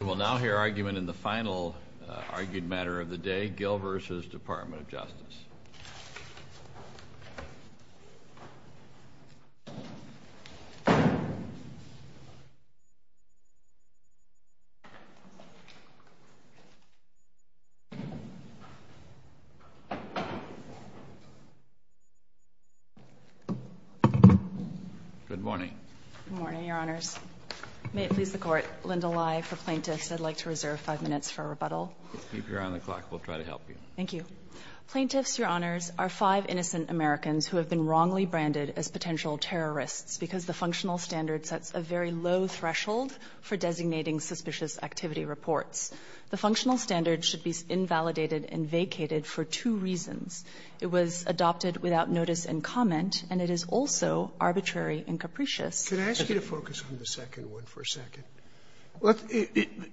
We will now hear argument in the final argued matter of the day, Gill v. Department of Justice. Good morning. Good morning, Your Honors. May it please the Court, Linda Lai for Plaintiffs. I'd like to reserve 5 minutes for a rebuttal. Keep your eye on the clock. We'll try to help you. Thank you. Plaintiffs, Your Honors, are five innocent Americans who have been wrongly branded as potential terrorists because the functional standard sets a very low threshold for designating suspicious activity reports. The functional standard should be invalidated and vacated for two reasons. It was adopted without notice and comment, and it is also arbitrary and capricious. Can I ask you to focus on the second one for a second?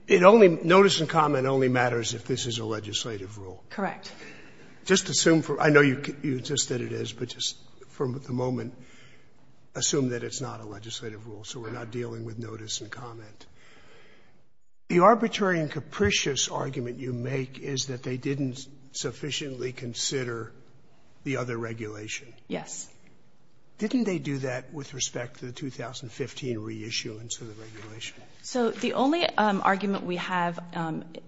Notice and comment only matters if this is a legislative rule. Correct. I know you insist that it is, but just for the moment, assume that it's not a legislative rule, so we're not dealing with notice and comment. The arbitrary and capricious argument you make is that they didn't sufficiently consider the other regulation. Yes. Didn't they do that with respect to the 2015 reissuance of the regulation? So the only argument we have,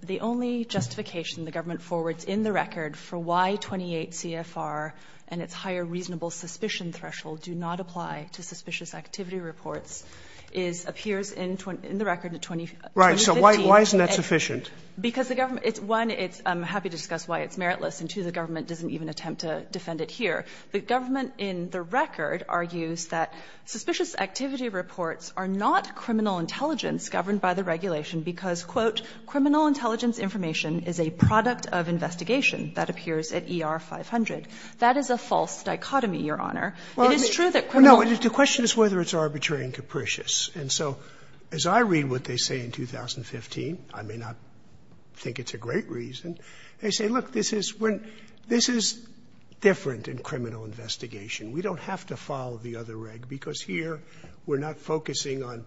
the only justification the government forwards in the record for why 28 CFR and its higher reasonable suspicion threshold do not apply to suspicious activity reports is appears in the record in 2015. Right. So why isn't that sufficient? Because the government, one, I'm happy to discuss why it's meritless, and two, the government doesn't even attempt to defend it here. The government, in the record, argues that suspicious activity reports are not criminal intelligence governed by the regulation, because, quote, criminal intelligence information is a product of investigation that appears at ER 500. That is a false dichotomy, Your Honor. It is true that criminal intelligence information is not a product of investigation that appears at ER 500. Well, the question is whether it's arbitrary and capricious. And so as I read what they say in 2015, I mean, I think it's a great reason, they say, well, this is different in criminal investigation. We don't have to follow the other reg, because here, we're not focusing on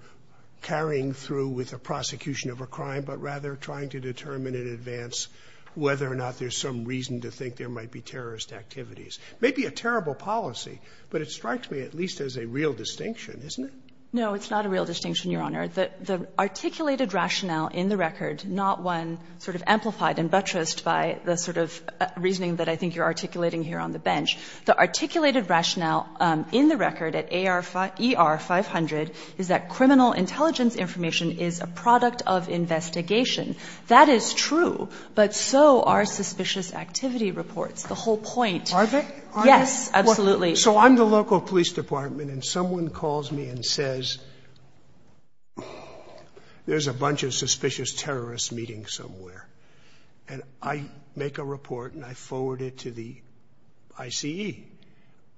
carrying through with a prosecution of a crime, but rather trying to determine in advance whether or not there's some reason to think there might be terrorist activities. It may be a terrible policy, but it strikes me at least as a real distinction, isn't it? No, it's not a real distinction, Your Honor. The articulated rationale in the record, not one sort of amplified and buttressed by the sort of reasoning that I think you're articulating here on the bench, the articulated rationale in the record at ER 500 is that criminal intelligence information is a product of investigation. That is true, but so are suspicious activity reports, the whole point. Are they? Yes, absolutely. So I'm the local police department, and someone calls me and says, there's a bunch of suspicious terrorists meeting somewhere. And I make a report, and I forward it to the ICE.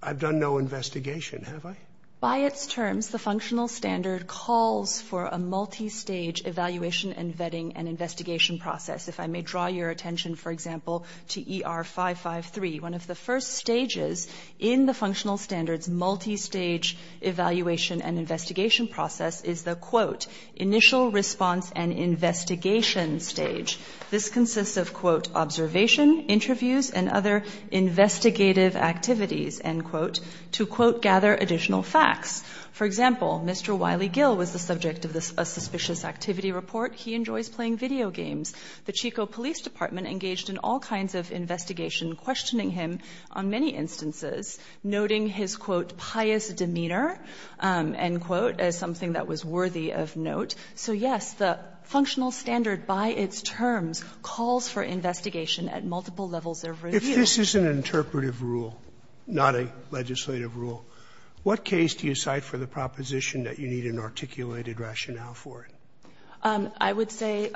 I've done no investigation, have I? By its terms, the functional standard calls for a multi-stage evaluation and vetting and investigation process. If I may draw your attention, for example, to ER 553. One of the first stages in the functional standard's multi-stage evaluation and investigation stage. This consists of, quote, observation, interviews, and other investigative activities, end quote, to, quote, gather additional facts. For example, Mr. Wiley Gill was the subject of a suspicious activity report. He enjoys playing video games. The Chico Police Department engaged in all kinds of investigation, questioning him on many instances, noting his, quote, pious demeanor, end quote, as something that was worthy of note. So, yes, the functional standard, by its terms, calls for investigation at multiple levels of review. Sotomayor, if this is an interpretive rule, not a legislative rule, what case do you cite for the proposition that you need an articulated rationale for it? I would say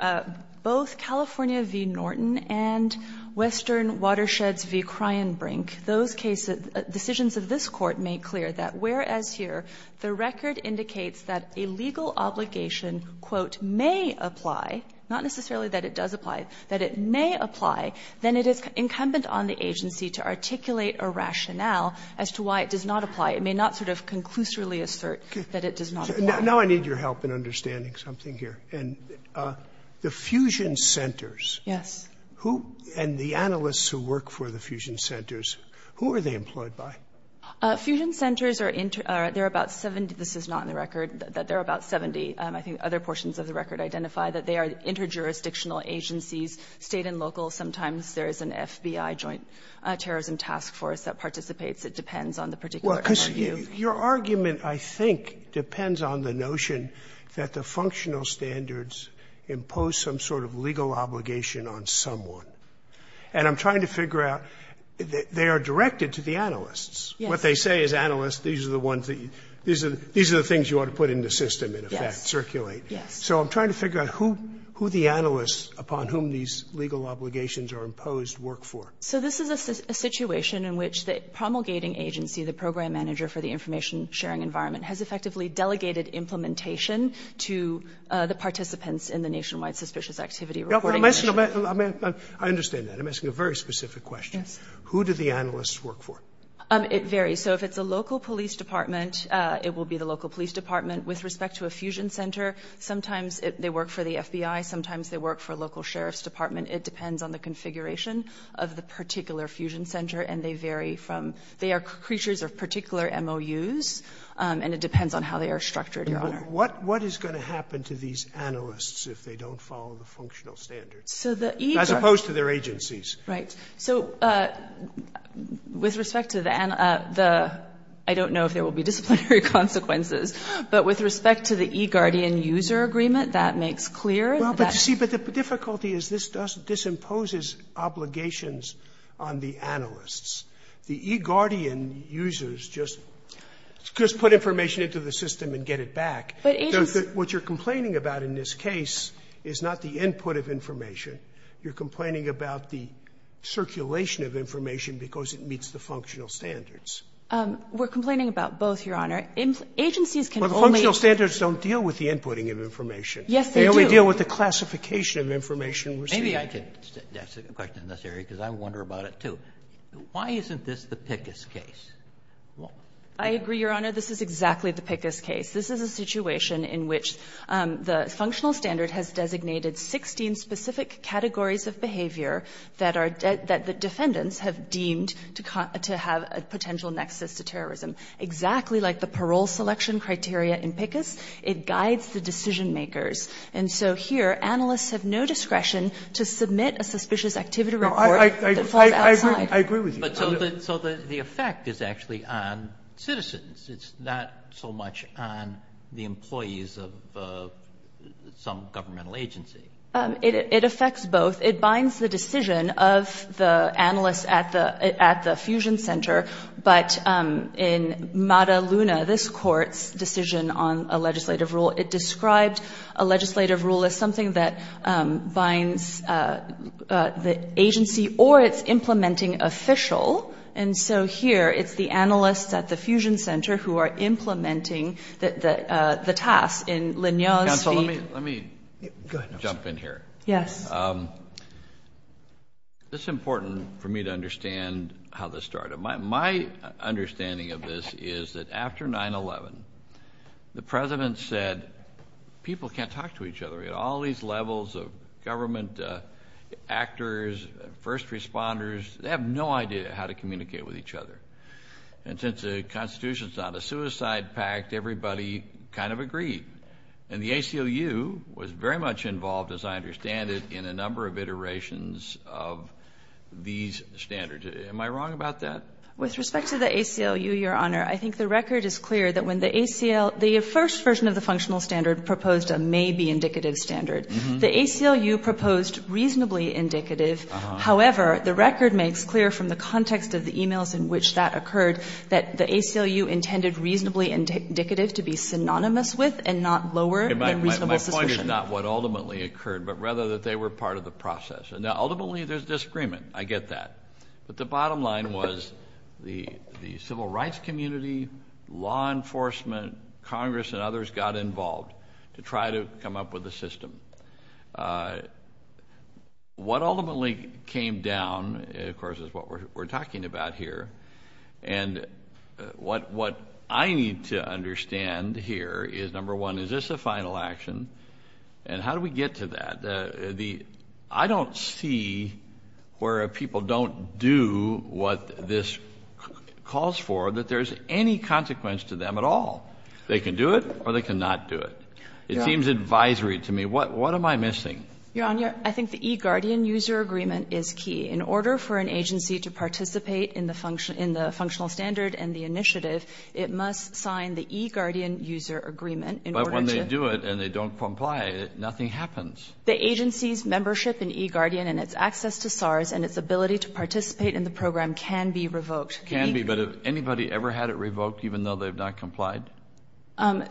both California v. Norton and Western Watersheds v. Kreienbrink. Those cases, decisions of this Court make clear that, whereas here, the record indicates that a legal obligation, quote, may apply, not necessarily that it does apply, that it may apply, then it is incumbent on the agency to articulate a rationale as to why it does not apply. It may not sort of conclusively assert that it does not apply. Now I need your help in understanding something here. The fusion centers. Yes. Who and the analysts who work for the fusion centers, who are they employed by? Fusion centers are inter or they're about 70. This is not in the record, but they're about 70. I think other portions of the record identify that they are inter-jurisdictional agencies, State and local. Sometimes there is an FBI joint terrorism task force that participates. It depends on the particular review. Well, because your argument, I think, depends on the notion that the functional standards impose some sort of legal obligation on someone. And I'm trying to figure out, they are directed to the analysts. What they say is, analysts, these are the ones that you, these are the things you ought to put in the system, in effect, circulate. Yes. So I'm trying to figure out who the analysts upon whom these legal obligations are imposed work for. So this is a situation in which the promulgating agency, the program manager for the information sharing environment, has effectively delegated implementation to the participants in the nationwide suspicious activity reporting initiative. I understand that. I'm asking a very specific question. Yes. Who do the analysts work for? It varies. So if it's a local police department, it will be the local police department. With respect to a fusion center, sometimes they work for the FBI. Sometimes they work for a local sheriff's department. It depends on the configuration of the particular fusion center, and they vary from they are creatures of particular MOUs, and it depends on how they are structured, Your Honor. What is going to happen to these analysts if they don't follow the functional standards? So the each are As opposed to their agencies. Right. So with respect to the, I don't know if there will be disciplinary consequences. But with respect to the eGuardian user agreement, that makes clear. Well, but you see, but the difficulty is this imposes obligations on the analysts. The eGuardian users just put information into the system and get it back. But agency. What you're complaining about in this case is not the input of information. You're complaining about the circulation of information because it meets the functional standards. We're complaining about both, Your Honor. Agencies can only. Well, the functional standards don't deal with the inputting of information. Yes, they do. They only deal with the classification of information we're seeing. Maybe I could ask a question in this area, because I wonder about it, too. Why isn't this the PICUS case? I agree, Your Honor. This is exactly the PICUS case. This is a situation in which the functional standard has designated 16 specific categories of behavior that the defendants have deemed to have a potential nexus to terrorism, exactly like the parole selection criteria in PICUS. It guides the decision makers. And so here, analysts have no discretion to submit a suspicious activity report that falls outside. I agree with you. So the effect is actually on citizens. It's not so much on the employees of some governmental agency. It affects both. It binds the decision of the analysts at the fusion center. But in Mada Luna, this court's decision on a legislative rule, it described a legislative rule as something that binds the agency or it's implementing official. And so here, it's the analysts at the fusion center who are implementing the task. And Leon speak. Counsel, let me jump in here. Yes. It's important for me to understand how this started. My understanding of this is that after 9-11, the president said, people can't talk to each other. We had all these levels of government actors, first responders. They have no idea how to communicate with each other. And since the Constitution is not a suicide pact, everybody kind of agreed. And the ACLU was very much involved, as I understand it, in a number of iterations of these standards. Am I wrong about that? With respect to the ACLU, Your Honor, I think the record is clear that when the ACL, the first version of the functional standard proposed a maybe indicative standard. The ACLU proposed reasonably indicative. However, the record makes clear from the context of the emails in which that occurred that the ACLU intended reasonably indicative to be synonymous with and not lower than reasonable suspicion. My point is not what ultimately occurred, but rather that they were part of the process. And ultimately, there's disagreement. I get that. But the bottom line was the civil rights community, law enforcement, Congress, and others got involved to try to come up with a system. What ultimately came down, of course, is what we're talking about here. And what I need to understand here is, number one, is this a final action? And how do we get to that? I don't see where people don't do what this calls for, that there's any consequence to them at all. They can do it, or they cannot do it. It seems advisory to me. What am I missing? Your Honor, I think the eGuardian user agreement is key. In order for an agency to participate in the functional standard and the initiative, it must sign the eGuardian user agreement in order to- But when they do it and they don't comply, nothing happens. The agency's membership in eGuardian and its access to SARS and its ability to participate in the program can be revoked. Can be, but has anybody ever had it revoked even though they've not complied? I'm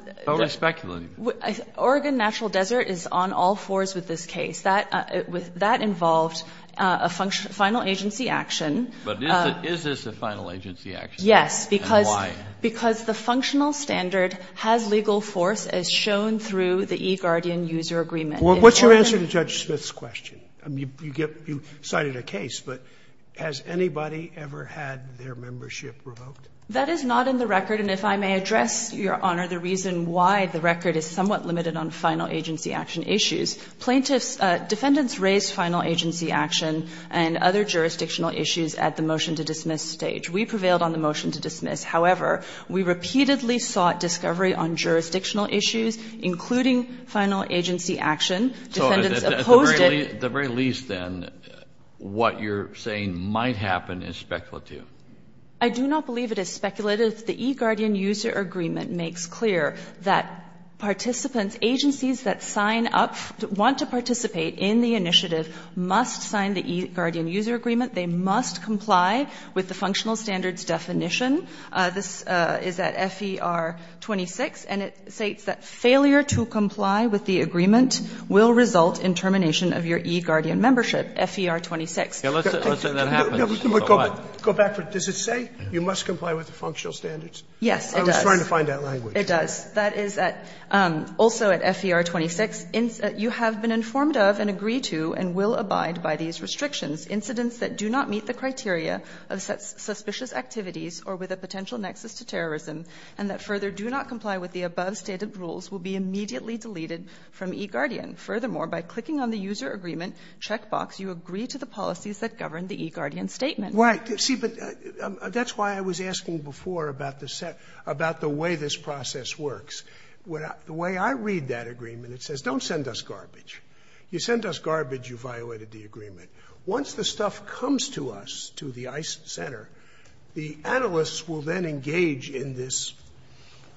speculating. Oregon Natural Desert is on all fours with this case. That involved a final agency action. But is this a final agency action? Yes. And why? Because the functional standard has legal force, as shown through the eGuardian user agreement. Well, what's your answer to Judge Smith's question? You cited a case, but has anybody ever had their membership revoked? That is not in the record. And if I may address, Your Honor, the reason why the record is somewhat limited on final agency action issues. Plaintiffs, defendants raised final agency action and other jurisdictional issues at the motion to dismiss stage. We prevailed on the motion to dismiss. However, we repeatedly sought discovery on jurisdictional issues, including final agency action. Defendants opposed it- At the very least, then, what you're saying might happen is speculative. I do not believe it is speculative. The eGuardian user agreement makes clear that participants, agencies that sign up, want to participate in the initiative, must sign the eGuardian user agreement. They must comply with the functional standards definition. This is at FER 26, and it states that failure to comply with the agreement will result in termination of your eGuardian membership, FER 26. Let's say that happens. Scalia, go back for a minute. Does it say you must comply with the functional standards? Yes, it does. I was trying to find that language. It does. That is also at FER 26. You have been informed of and agree to and will abide by these restrictions. Incidents that do not meet the criteria of suspicious activities or with a potential nexus to terrorism and that further do not comply with the above stated rules will be immediately deleted from eGuardian. Furthermore, by clicking on the user agreement checkbox, you agree to the policies that govern the eGuardian statement. Right. See, but that's why I was asking before about the way this process works. The way I read that agreement, it says don't send us garbage. You send us garbage, you violated the agreement. Once the stuff comes to us, to the ICE Center, the analysts will then engage in this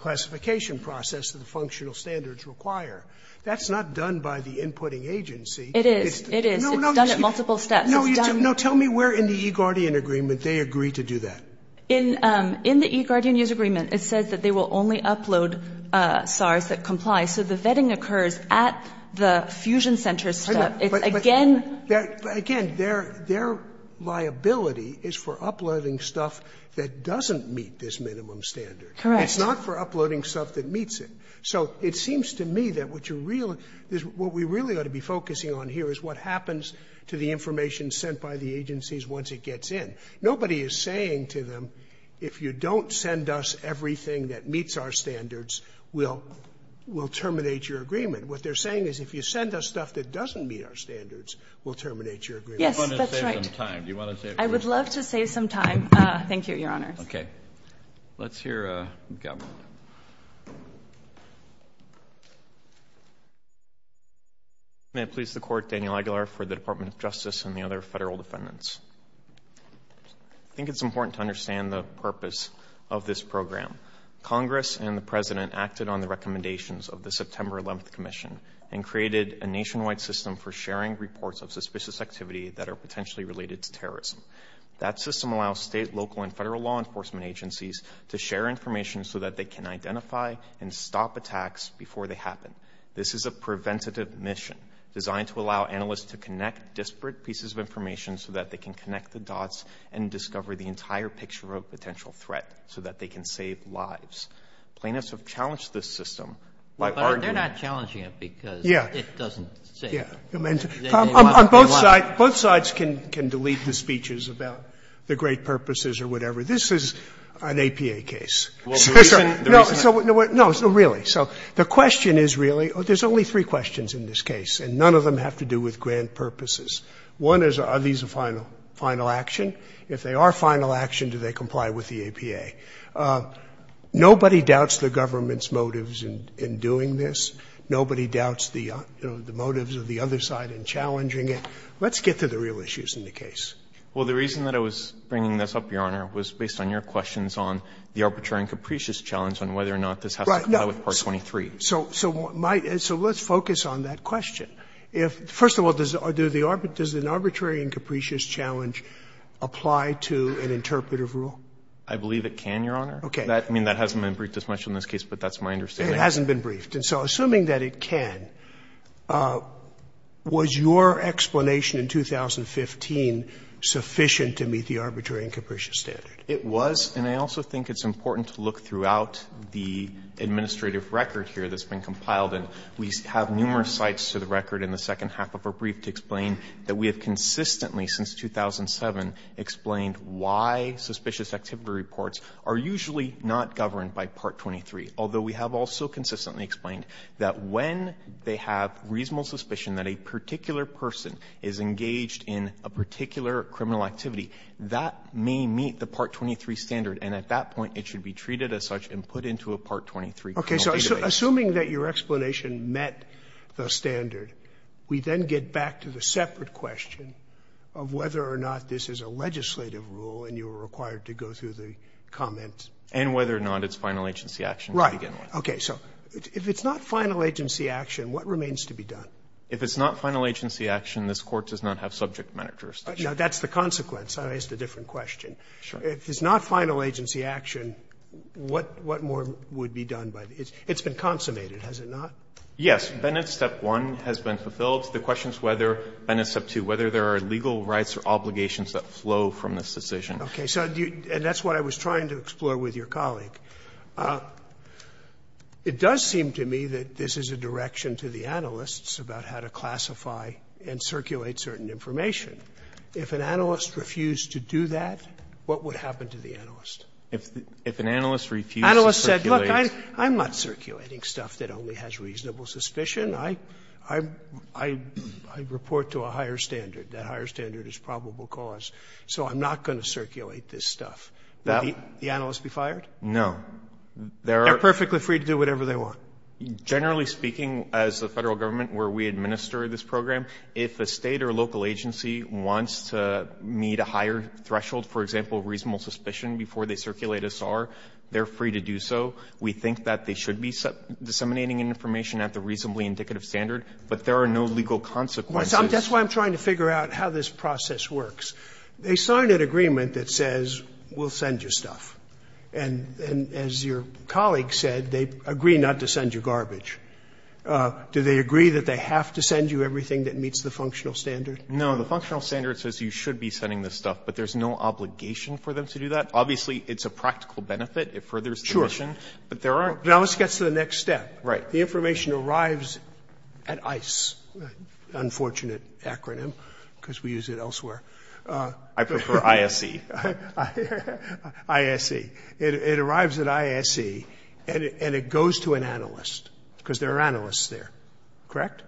classification process that the functional standards require. That's not done by the inputting agency. It is. It is. It's done at multiple steps. No, tell me where in the eGuardian agreement they agree to do that. In the eGuardian user agreement, it says that they will only upload SARS that complies. So the vetting occurs at the fusion center stuff. It's again. Again, their liability is for uploading stuff that doesn't meet this minimum standard. Correct. It's not for uploading stuff that meets it. So it seems to me that what you're really going to be focusing on here is what happens to the information sent by the agencies once it gets in. Nobody is saying to them, if you don't send us everything that meets our standards, we'll terminate your agreement. What they're saying is if you send us stuff that doesn't meet our standards, we'll terminate your agreement. Yes, that's right. You want to save some time. Do you want to save some time? I would love to save some time. Thank you, Your Honors. Okay. Let's hear from the government. May it please the Court, Daniel Aguilar for the Department of Justice and the other federal defendants. I think it's important to understand the purpose of this program. Congress and the President acted on the recommendations of the September 11th Commission and created a nationwide system for sharing reports of suspicious activity that are potentially related to terrorism. That system allows state, local, and federal law enforcement agencies to share information so that they can identify and stop attacks before they happen. This is a preventative mission designed to allow analysts to connect disparate pieces of information so that they can connect the dots and discover the entire picture of a potential threat so that they can save lives. Plaintiffs have challenged this system by arguing that they're not doing it. But they're not challenging it because it doesn't save lives. Yeah. On both sides, both sides can delete the speeches about the great purposes or whatever. This is an APA case. So the question is really, there's only three questions in this case, and none of them have to do with grand purposes. One is, are these a final action? If they are a final action, do they comply with the APA? Nobody doubts the government's motives in doing this. Nobody doubts the motives of the other side in challenging it. Let's get to the real issues in the case. Well, the reason that I was bringing this up, Your Honor, was based on your questions on the arbitrary and capricious challenge on whether or not this has to comply with Part 23. So let's focus on that question. First of all, does an arbitrary and capricious challenge apply to an interpretive rule? I believe it can, Your Honor. Okay. I mean, that hasn't been briefed as much in this case, but that's my understanding. It hasn't been briefed. And so assuming that it can, was your explanation in 2015 sufficient to meet the arbitrary and capricious standard? It was, and I also think it's important to look throughout the administrative record here that's been compiled, and we have numerous sites to the record in the second half of our brief to explain that we have consistently, since 2007, explained why suspicious activity reports are usually not governed by Part 23, although we have also consistently explained that when they have reasonable suspicion that a particular person is engaged in a particular criminal activity, that may meet the Part 23 standard, and at that point, it should be treated as such and put into a Part 23 criminal database. Okay. So assuming that your explanation met the standard, we then get back to the separate question of whether or not this is a legislative rule, and you are required to go through the comments. And whether or not it's final agency action to begin with. Right. Okay. So if it's not final agency action, what remains to be done? If it's not final agency action, this Court does not have subject matter jurisdiction. Now, that's the consequence. I asked a different question. Sure. If it's not final agency action, what more would be done by this? It's been consummated, has it not? Yes. Bennett's Step 1 has been fulfilled. The question is whether Bennett's Step 2, whether there are legal rights or obligations that flow from this decision. Okay. So do you — and that's what I was trying to explore with your colleague. It does seem to me that this is a direction to the analysts about how to classify and circulate certain information. If an analyst refused to do that, what would happen to the analyst? If an analyst refused to circulate — Analyst said, look, I'm not circulating stuff that only has reasonable suspicion. I report to a higher standard. That higher standard is probable cause. So I'm not going to circulate this stuff. Would the analyst be fired? No. They're perfectly free to do whatever they want. Generally speaking, as the Federal Government, where we administer this program, if a State or local agency wants to meet a higher threshold, for example, reasonable suspicion, before they circulate a SAR, they're free to do so. We think that they should be disseminating information at the reasonably indicative standard, but there are no legal consequences. That's why I'm trying to figure out how this process works. They sign an agreement that says we'll send you stuff. And as your colleague said, they agree not to send you garbage. Do they agree that they have to send you everything that meets the functional standard? No. The functional standard says you should be sending this stuff, but there's no obligation for them to do that. Obviously, it's a practical benefit. It furthers the mission. Sure. But there are — Now let's get to the next step. Right. The information arrives at ICE, unfortunate acronym, because we use it elsewhere. I prefer ISE. ISE. It arrives at ISE, and it goes to an analyst. Because there are analysts there. Correct?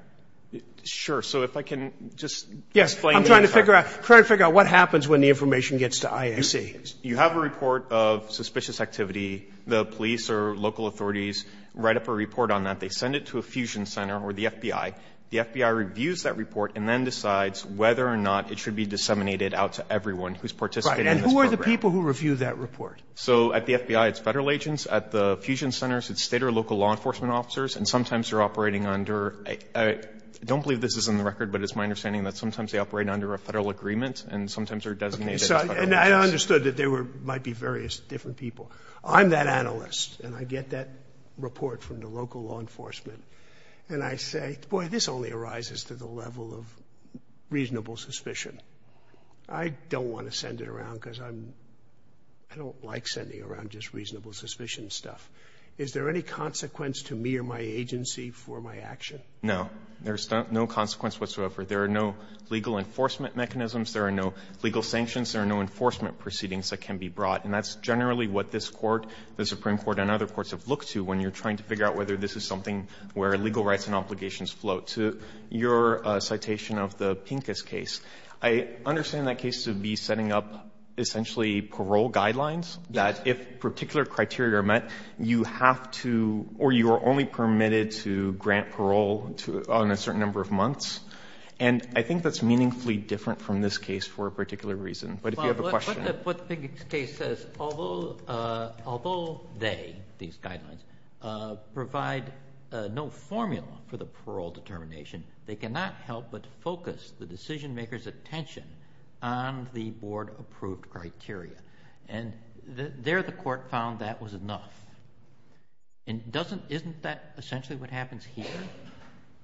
Sure. So if I can just explain — I'm trying to figure out what happens when the information gets to ISE. You have a report of suspicious activity. The police or local authorities write up a report on that. They send it to a fusion center or the FBI. The FBI reviews that report and then decides whether or not it should be disseminated out to everyone who's participating in this program. Right. And who are the people who review that report? So at the FBI, it's federal agents. At the fusion centers, it's state or local law enforcement officers. And sometimes they're operating under — I don't believe this is in the record, but it's my understanding that sometimes they operate under a federal agreement and sometimes they're designated as federal agents. And I understood that there might be various different people. I'm that analyst, and I get that report from the local law enforcement. And I say, boy, this only arises to the level of reasonable suspicion. I don't want to send it around because I'm — I don't want to get into any of this litigation stuff. Is there any consequences to me or my agency for my action? No. There's no consequences whatsoever. There are no legal enforcement mechanisms. There are no legal sanctions. There are no enforcement proceedings that can be brought. And that's generally what this Court, the Supreme Court and other courts have looked to when you're trying to figure out whether this is something where legal rights and obligations float. To your citation of the Pincus case, I understand that cases would be setting up, essentially, parole guidelines that if particular criteria are met, you have to, or you are only permitted to grant parole on a certain number of months. And I think that's meaningfully different from this case for a particular reason. But if you have a question. What the Pincus case says, although they, these guidelines, provide no formula for the parole determination, they cannot help but focus the decision-maker's attention on the board-approved criteria. And there the Court found that was enough. And doesn't, isn't that essentially what happens here?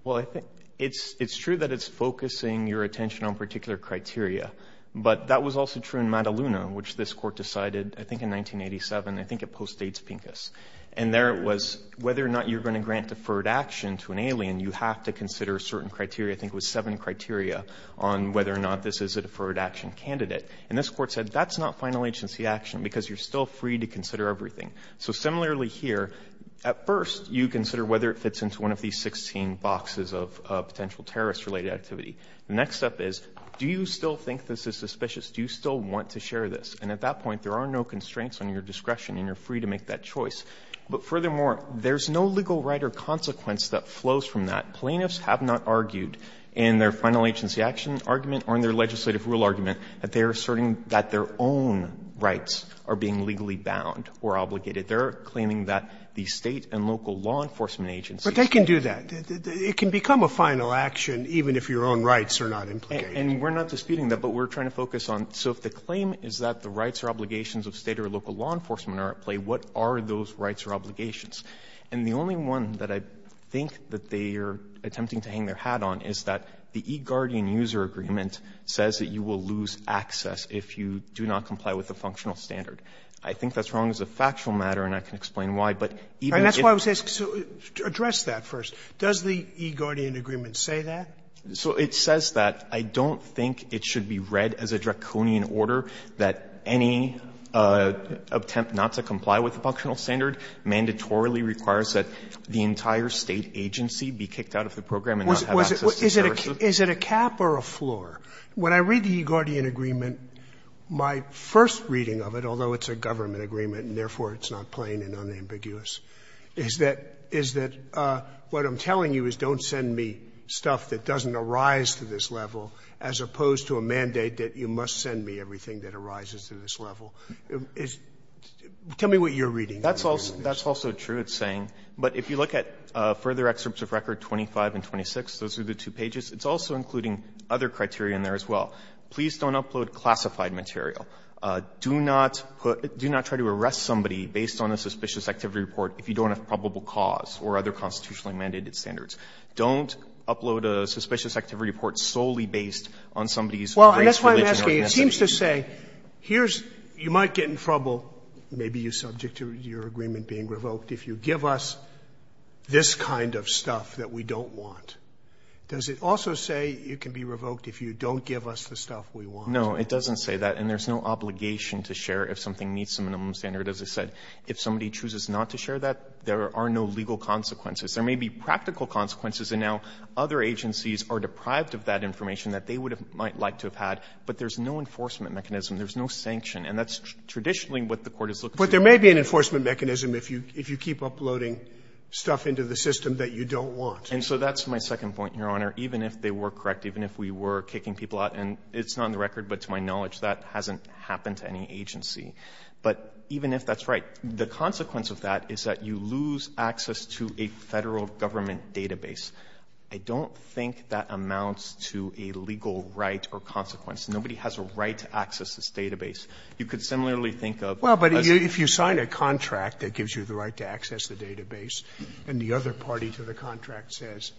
Well, I think it's true that it's focusing your attention on particular criteria. But that was also true in Mataluna, which this Court decided, I think in 1987, I think it postdates Pincus. And there it was, whether or not you're going to grant deferred action to an alien, you have to consider certain criteria, I think it was seven criteria, on whether or not this is a deferred action candidate. And this Court said, that's not final agency action, because you're still free to consider everything. So similarly here, at first, you consider whether it fits into one of these 16 boxes of potential terrorist-related activity. The next step is, do you still think this is suspicious? Do you still want to share this? And at that point, there are no constraints on your discretion, and you're free to make that choice. But furthermore, there's no legal right or consequence that flows from that. Plaintiffs have not argued in their final agency action argument or in their legislative rule argument that they are asserting that their own rights are being legally bound or obligated. They're claiming that the State and local law enforcement agencies. Roberts. But they can do that. It can become a final action, even if your own rights are not implicated. And we're not disputing that, but we're trying to focus on, so if the claim is that the rights or obligations of State or local law enforcement are at play, what are those rights or obligations? And the only one that I think that they are attempting to hang their hat on is that the eGuardian user agreement says that you will lose access if you do not comply with the functional standard. I think that's wrong as a factual matter, and I can explain why, but even if it's not. Sotomayor, address that first. Does the eGuardian agreement say that? So it says that I don't think it should be read as a draconian order that any attempt not to comply with the functional standard mandatorily requires that the entire State agency be kicked out of the program and not have access to services? Sotomayor, is it a cap or a floor? When I read the eGuardian agreement, my first reading of it, although it's a government agreement and therefore it's not plain and unambiguous, is that what I'm telling you is don't send me stuff that doesn't arise to this level as opposed to a mandate that you must send me everything that arises to this level. Tell me what you're reading. That's also true, it's saying. But if you look at further excerpts of record 25 and 26, those are the two pages, it's also including other criteria in there as well. Please don't upload classified material. Do not put do not try to arrest somebody based on a suspicious activity report if you don't have probable cause or other constitutionally mandated standards. or ethnicity. Well, and that's why I'm asking, it seems to say, here's you might get in trouble, maybe you're subject to your agreement being revoked, if you give us this kind of stuff that we don't want. Does it also say you can be revoked if you don't give us the stuff we want? No, it doesn't say that. And there's no obligation to share if something meets the minimum standard. As I said, if somebody chooses not to share that, there are no legal consequences. There may be practical consequences, and now other agencies are deprived of that But there's no enforcement mechanism. There's no sanction, and that's traditionally what the Court is looking for. But there may be an enforcement mechanism if you keep uploading stuff into the system that you don't want. And so that's my second point, Your Honor. Even if they were correct, even if we were kicking people out, and it's not in the record, but to my knowledge, that hasn't happened to any agency. But even if that's right, the consequence of that is that you lose access to a Federal Government database. I don't think that amounts to a legal right or consequence. Nobody has a right to access this database. You could similarly think of Well, but if you sign a contract that gives you the right to access the database, and the other party to the contract says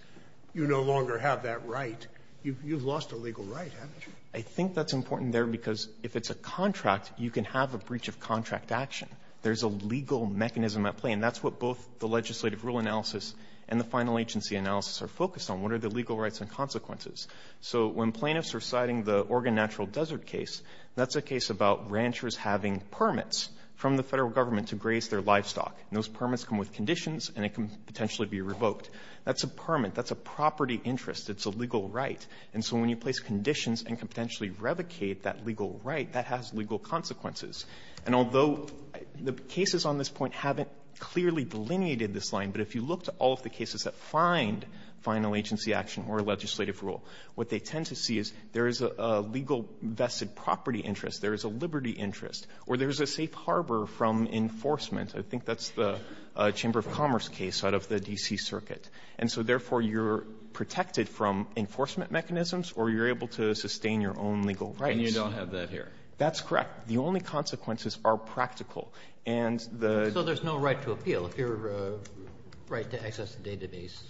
you no longer have that right, you've lost a legal right, haven't you? I think that's important there because if it's a contract, you can have a breach of contract action. There's a legal mechanism at play. And that's what both the legislative rule analysis and the final agency analysis are focused on. What are the legal rights and consequences? So when plaintiffs are citing the Oregon Natural Desert case, that's a case about ranchers having permits from the Federal Government to graze their livestock. Those permits come with conditions, and it can potentially be revoked. That's a permit. That's a property interest. It's a legal right. And so when you place conditions and can potentially revocate that legal right, that has legal consequences. And although the cases on this point haven't clearly delineated this line, but if you look to all of the cases that find final agency action or legislative rule, what they tend to see is there is a legal vested property interest, there is a liberty interest, or there is a safe harbor from enforcement. I think that's the Chamber of Commerce case out of the D.C. Circuit. And so therefore, you're protected from enforcement mechanisms or you're able to sustain your own legal rights. Alito, and you don't have that here. That's correct. The only consequences are practical. And the — So there's no right to appeal. If your right to access the database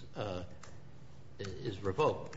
is revoked,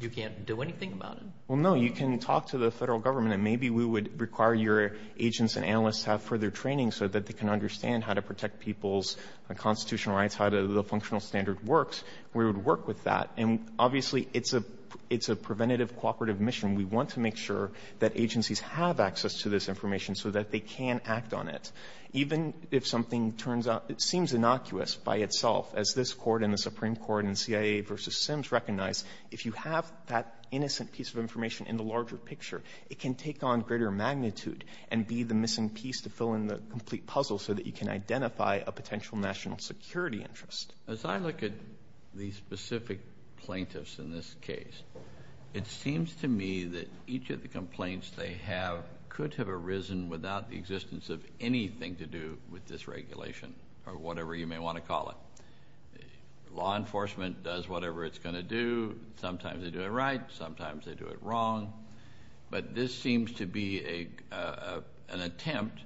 you can't do anything about it? Well, no. You can talk to the Federal Government, and maybe we would require your agents and analysts to have further training so that they can understand how to protect people's constitutional rights, how the functional standard works. We would work with that. And obviously, it's a preventative, cooperative mission. We want to make sure that agencies have access to this information so that they can act on it. Even if something turns out — it seems innocuous by itself, as this Court and the Supreme Court and CIA v. Sims recognize, if you have that innocent piece of information in the larger picture, it can take on greater magnitude and be the missing piece to fill in the complete puzzle so that you can identify a potential national security interest. As I look at these specific plaintiffs in this case, it seems to me that each of the complaints they have could have arisen without the existence of anything to do with this regulation, or whatever you may want to call it. Law enforcement does whatever it's going to do. Sometimes they do it right. Sometimes they do it wrong. But this seems to be an attempt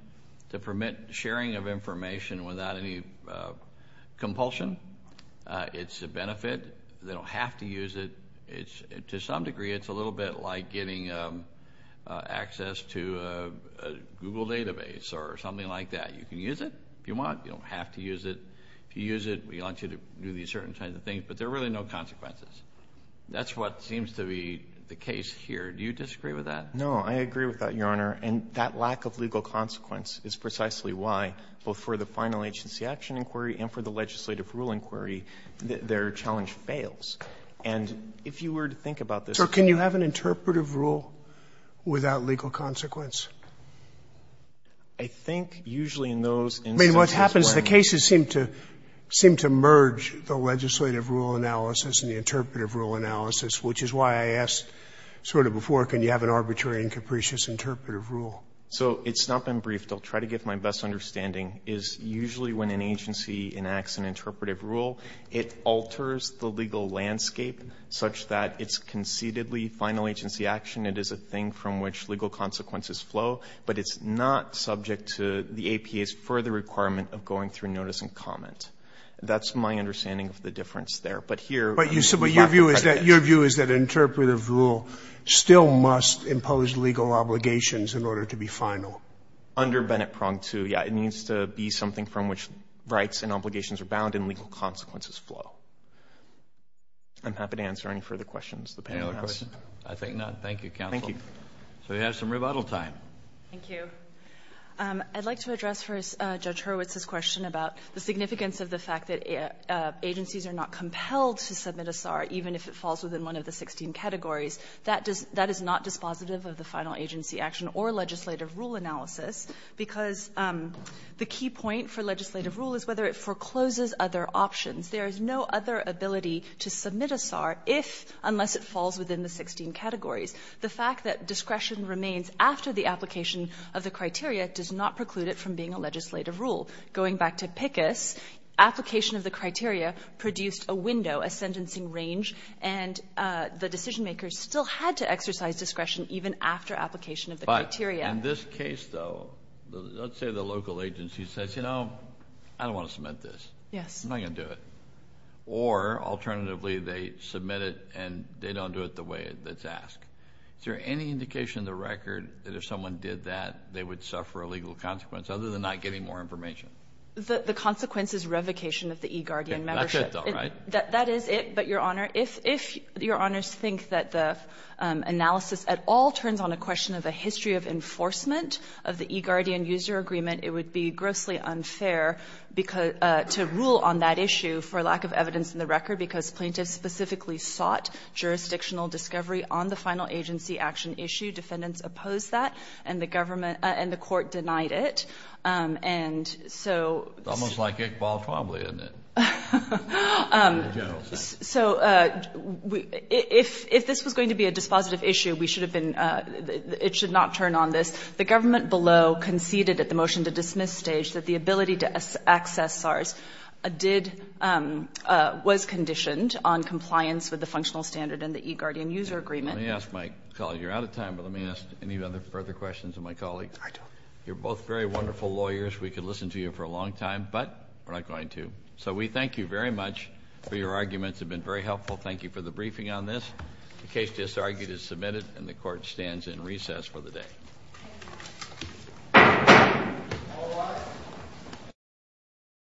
to permit sharing of information without any compulsion. It's a benefit. They don't have to use it. To some degree, it's a little bit like getting access to a Google database or something like that. You can use it if you want. You don't have to use it. If you use it, we want you to do these certain kinds of things. But there are really no consequences. That's what seems to be the case here. Do you disagree with that? No, I agree with that, Your Honor. And that lack of legal consequence is precisely why, both for the final agency action inquiry and for the legislative rule inquiry, their challenge fails. And if you were to think about this. So can you have an interpretive rule without legal consequence? I think usually in those instances where I'm not sure. I mean, what happens, the cases seem to merge the legislative rule analysis and the interpretive rule analysis, which is why I asked sort of before, can you have an arbitrary and capricious interpretive rule? So it's not been briefed. I'll try to give my best understanding is usually when an agency enacts an interpretive rule, it alters the legal landscape such that it's concededly final agency action. It is a thing from which legal consequences flow, but it's not subject to the APA's further requirement of going through notice and comment. That's my understanding of the difference there. But here. But your view is that an interpretive rule still must impose legal obligations in order to be final. So under Bennett Prong II, yeah, it needs to be something from which rights and obligations are bound and legal consequences flow. I'm happy to answer any further questions the panel has. Kennedy. I think not. Thank you, counsel. Thank you. So we have some rebuttal time. Thank you. I'd like to address first Judge Hurwitz's question about the significance of the fact that agencies are not compelled to submit a SAR even if it falls within one of the 16 categories. That is not dispositive of the final agency action or legislative rule analysis because the key point for legislative rule is whether it forecloses other options. There is no other ability to submit a SAR if, unless it falls within the 16 categories. The fact that discretion remains after the application of the criteria does not preclude it from being a legislative rule. Going back to PICUS, application of the criteria produced a window, a sentencing range, and the decision makers still had to exercise discretion even after application of the criteria. But in this case, though, let's say the local agency says, you know, I don't want to submit this. Yes. I'm not going to do it. Or, alternatively, they submit it and they don't do it the way that's asked. Is there any indication in the record that if someone did that, they would suffer a legal consequence other than not getting more information? The consequence is revocation of the eGuardian membership. That's it, though, right? That is it. But, Your Honor, if Your Honors think that the analysis at all turns on a question of a history of enforcement of the eGuardian user agreement, it would be grossly unfair to rule on that issue for lack of evidence in the record, because plaintiffs specifically sought jurisdictional discovery on the final agency action issue. Defendants opposed that, and the government and the court denied it. It's almost like Iqbal Trombley, isn't it? So, if this was going to be a dispositive issue, we should have been, it should not turn on this. The government below conceded at the motion to dismiss stage that the ability to access SARS did, was conditioned on compliance with the functional standard and the eGuardian user agreement. Let me ask my colleague, you're out of time, but let me ask any other further questions of my colleague. I do. You're both very wonderful lawyers. We could listen to you for a long time, but we're not going to. So, we thank you very much for your arguments. They've been very helpful. Thank you for the briefing on this. The case disargued is submitted, and the court stands in recess for the day.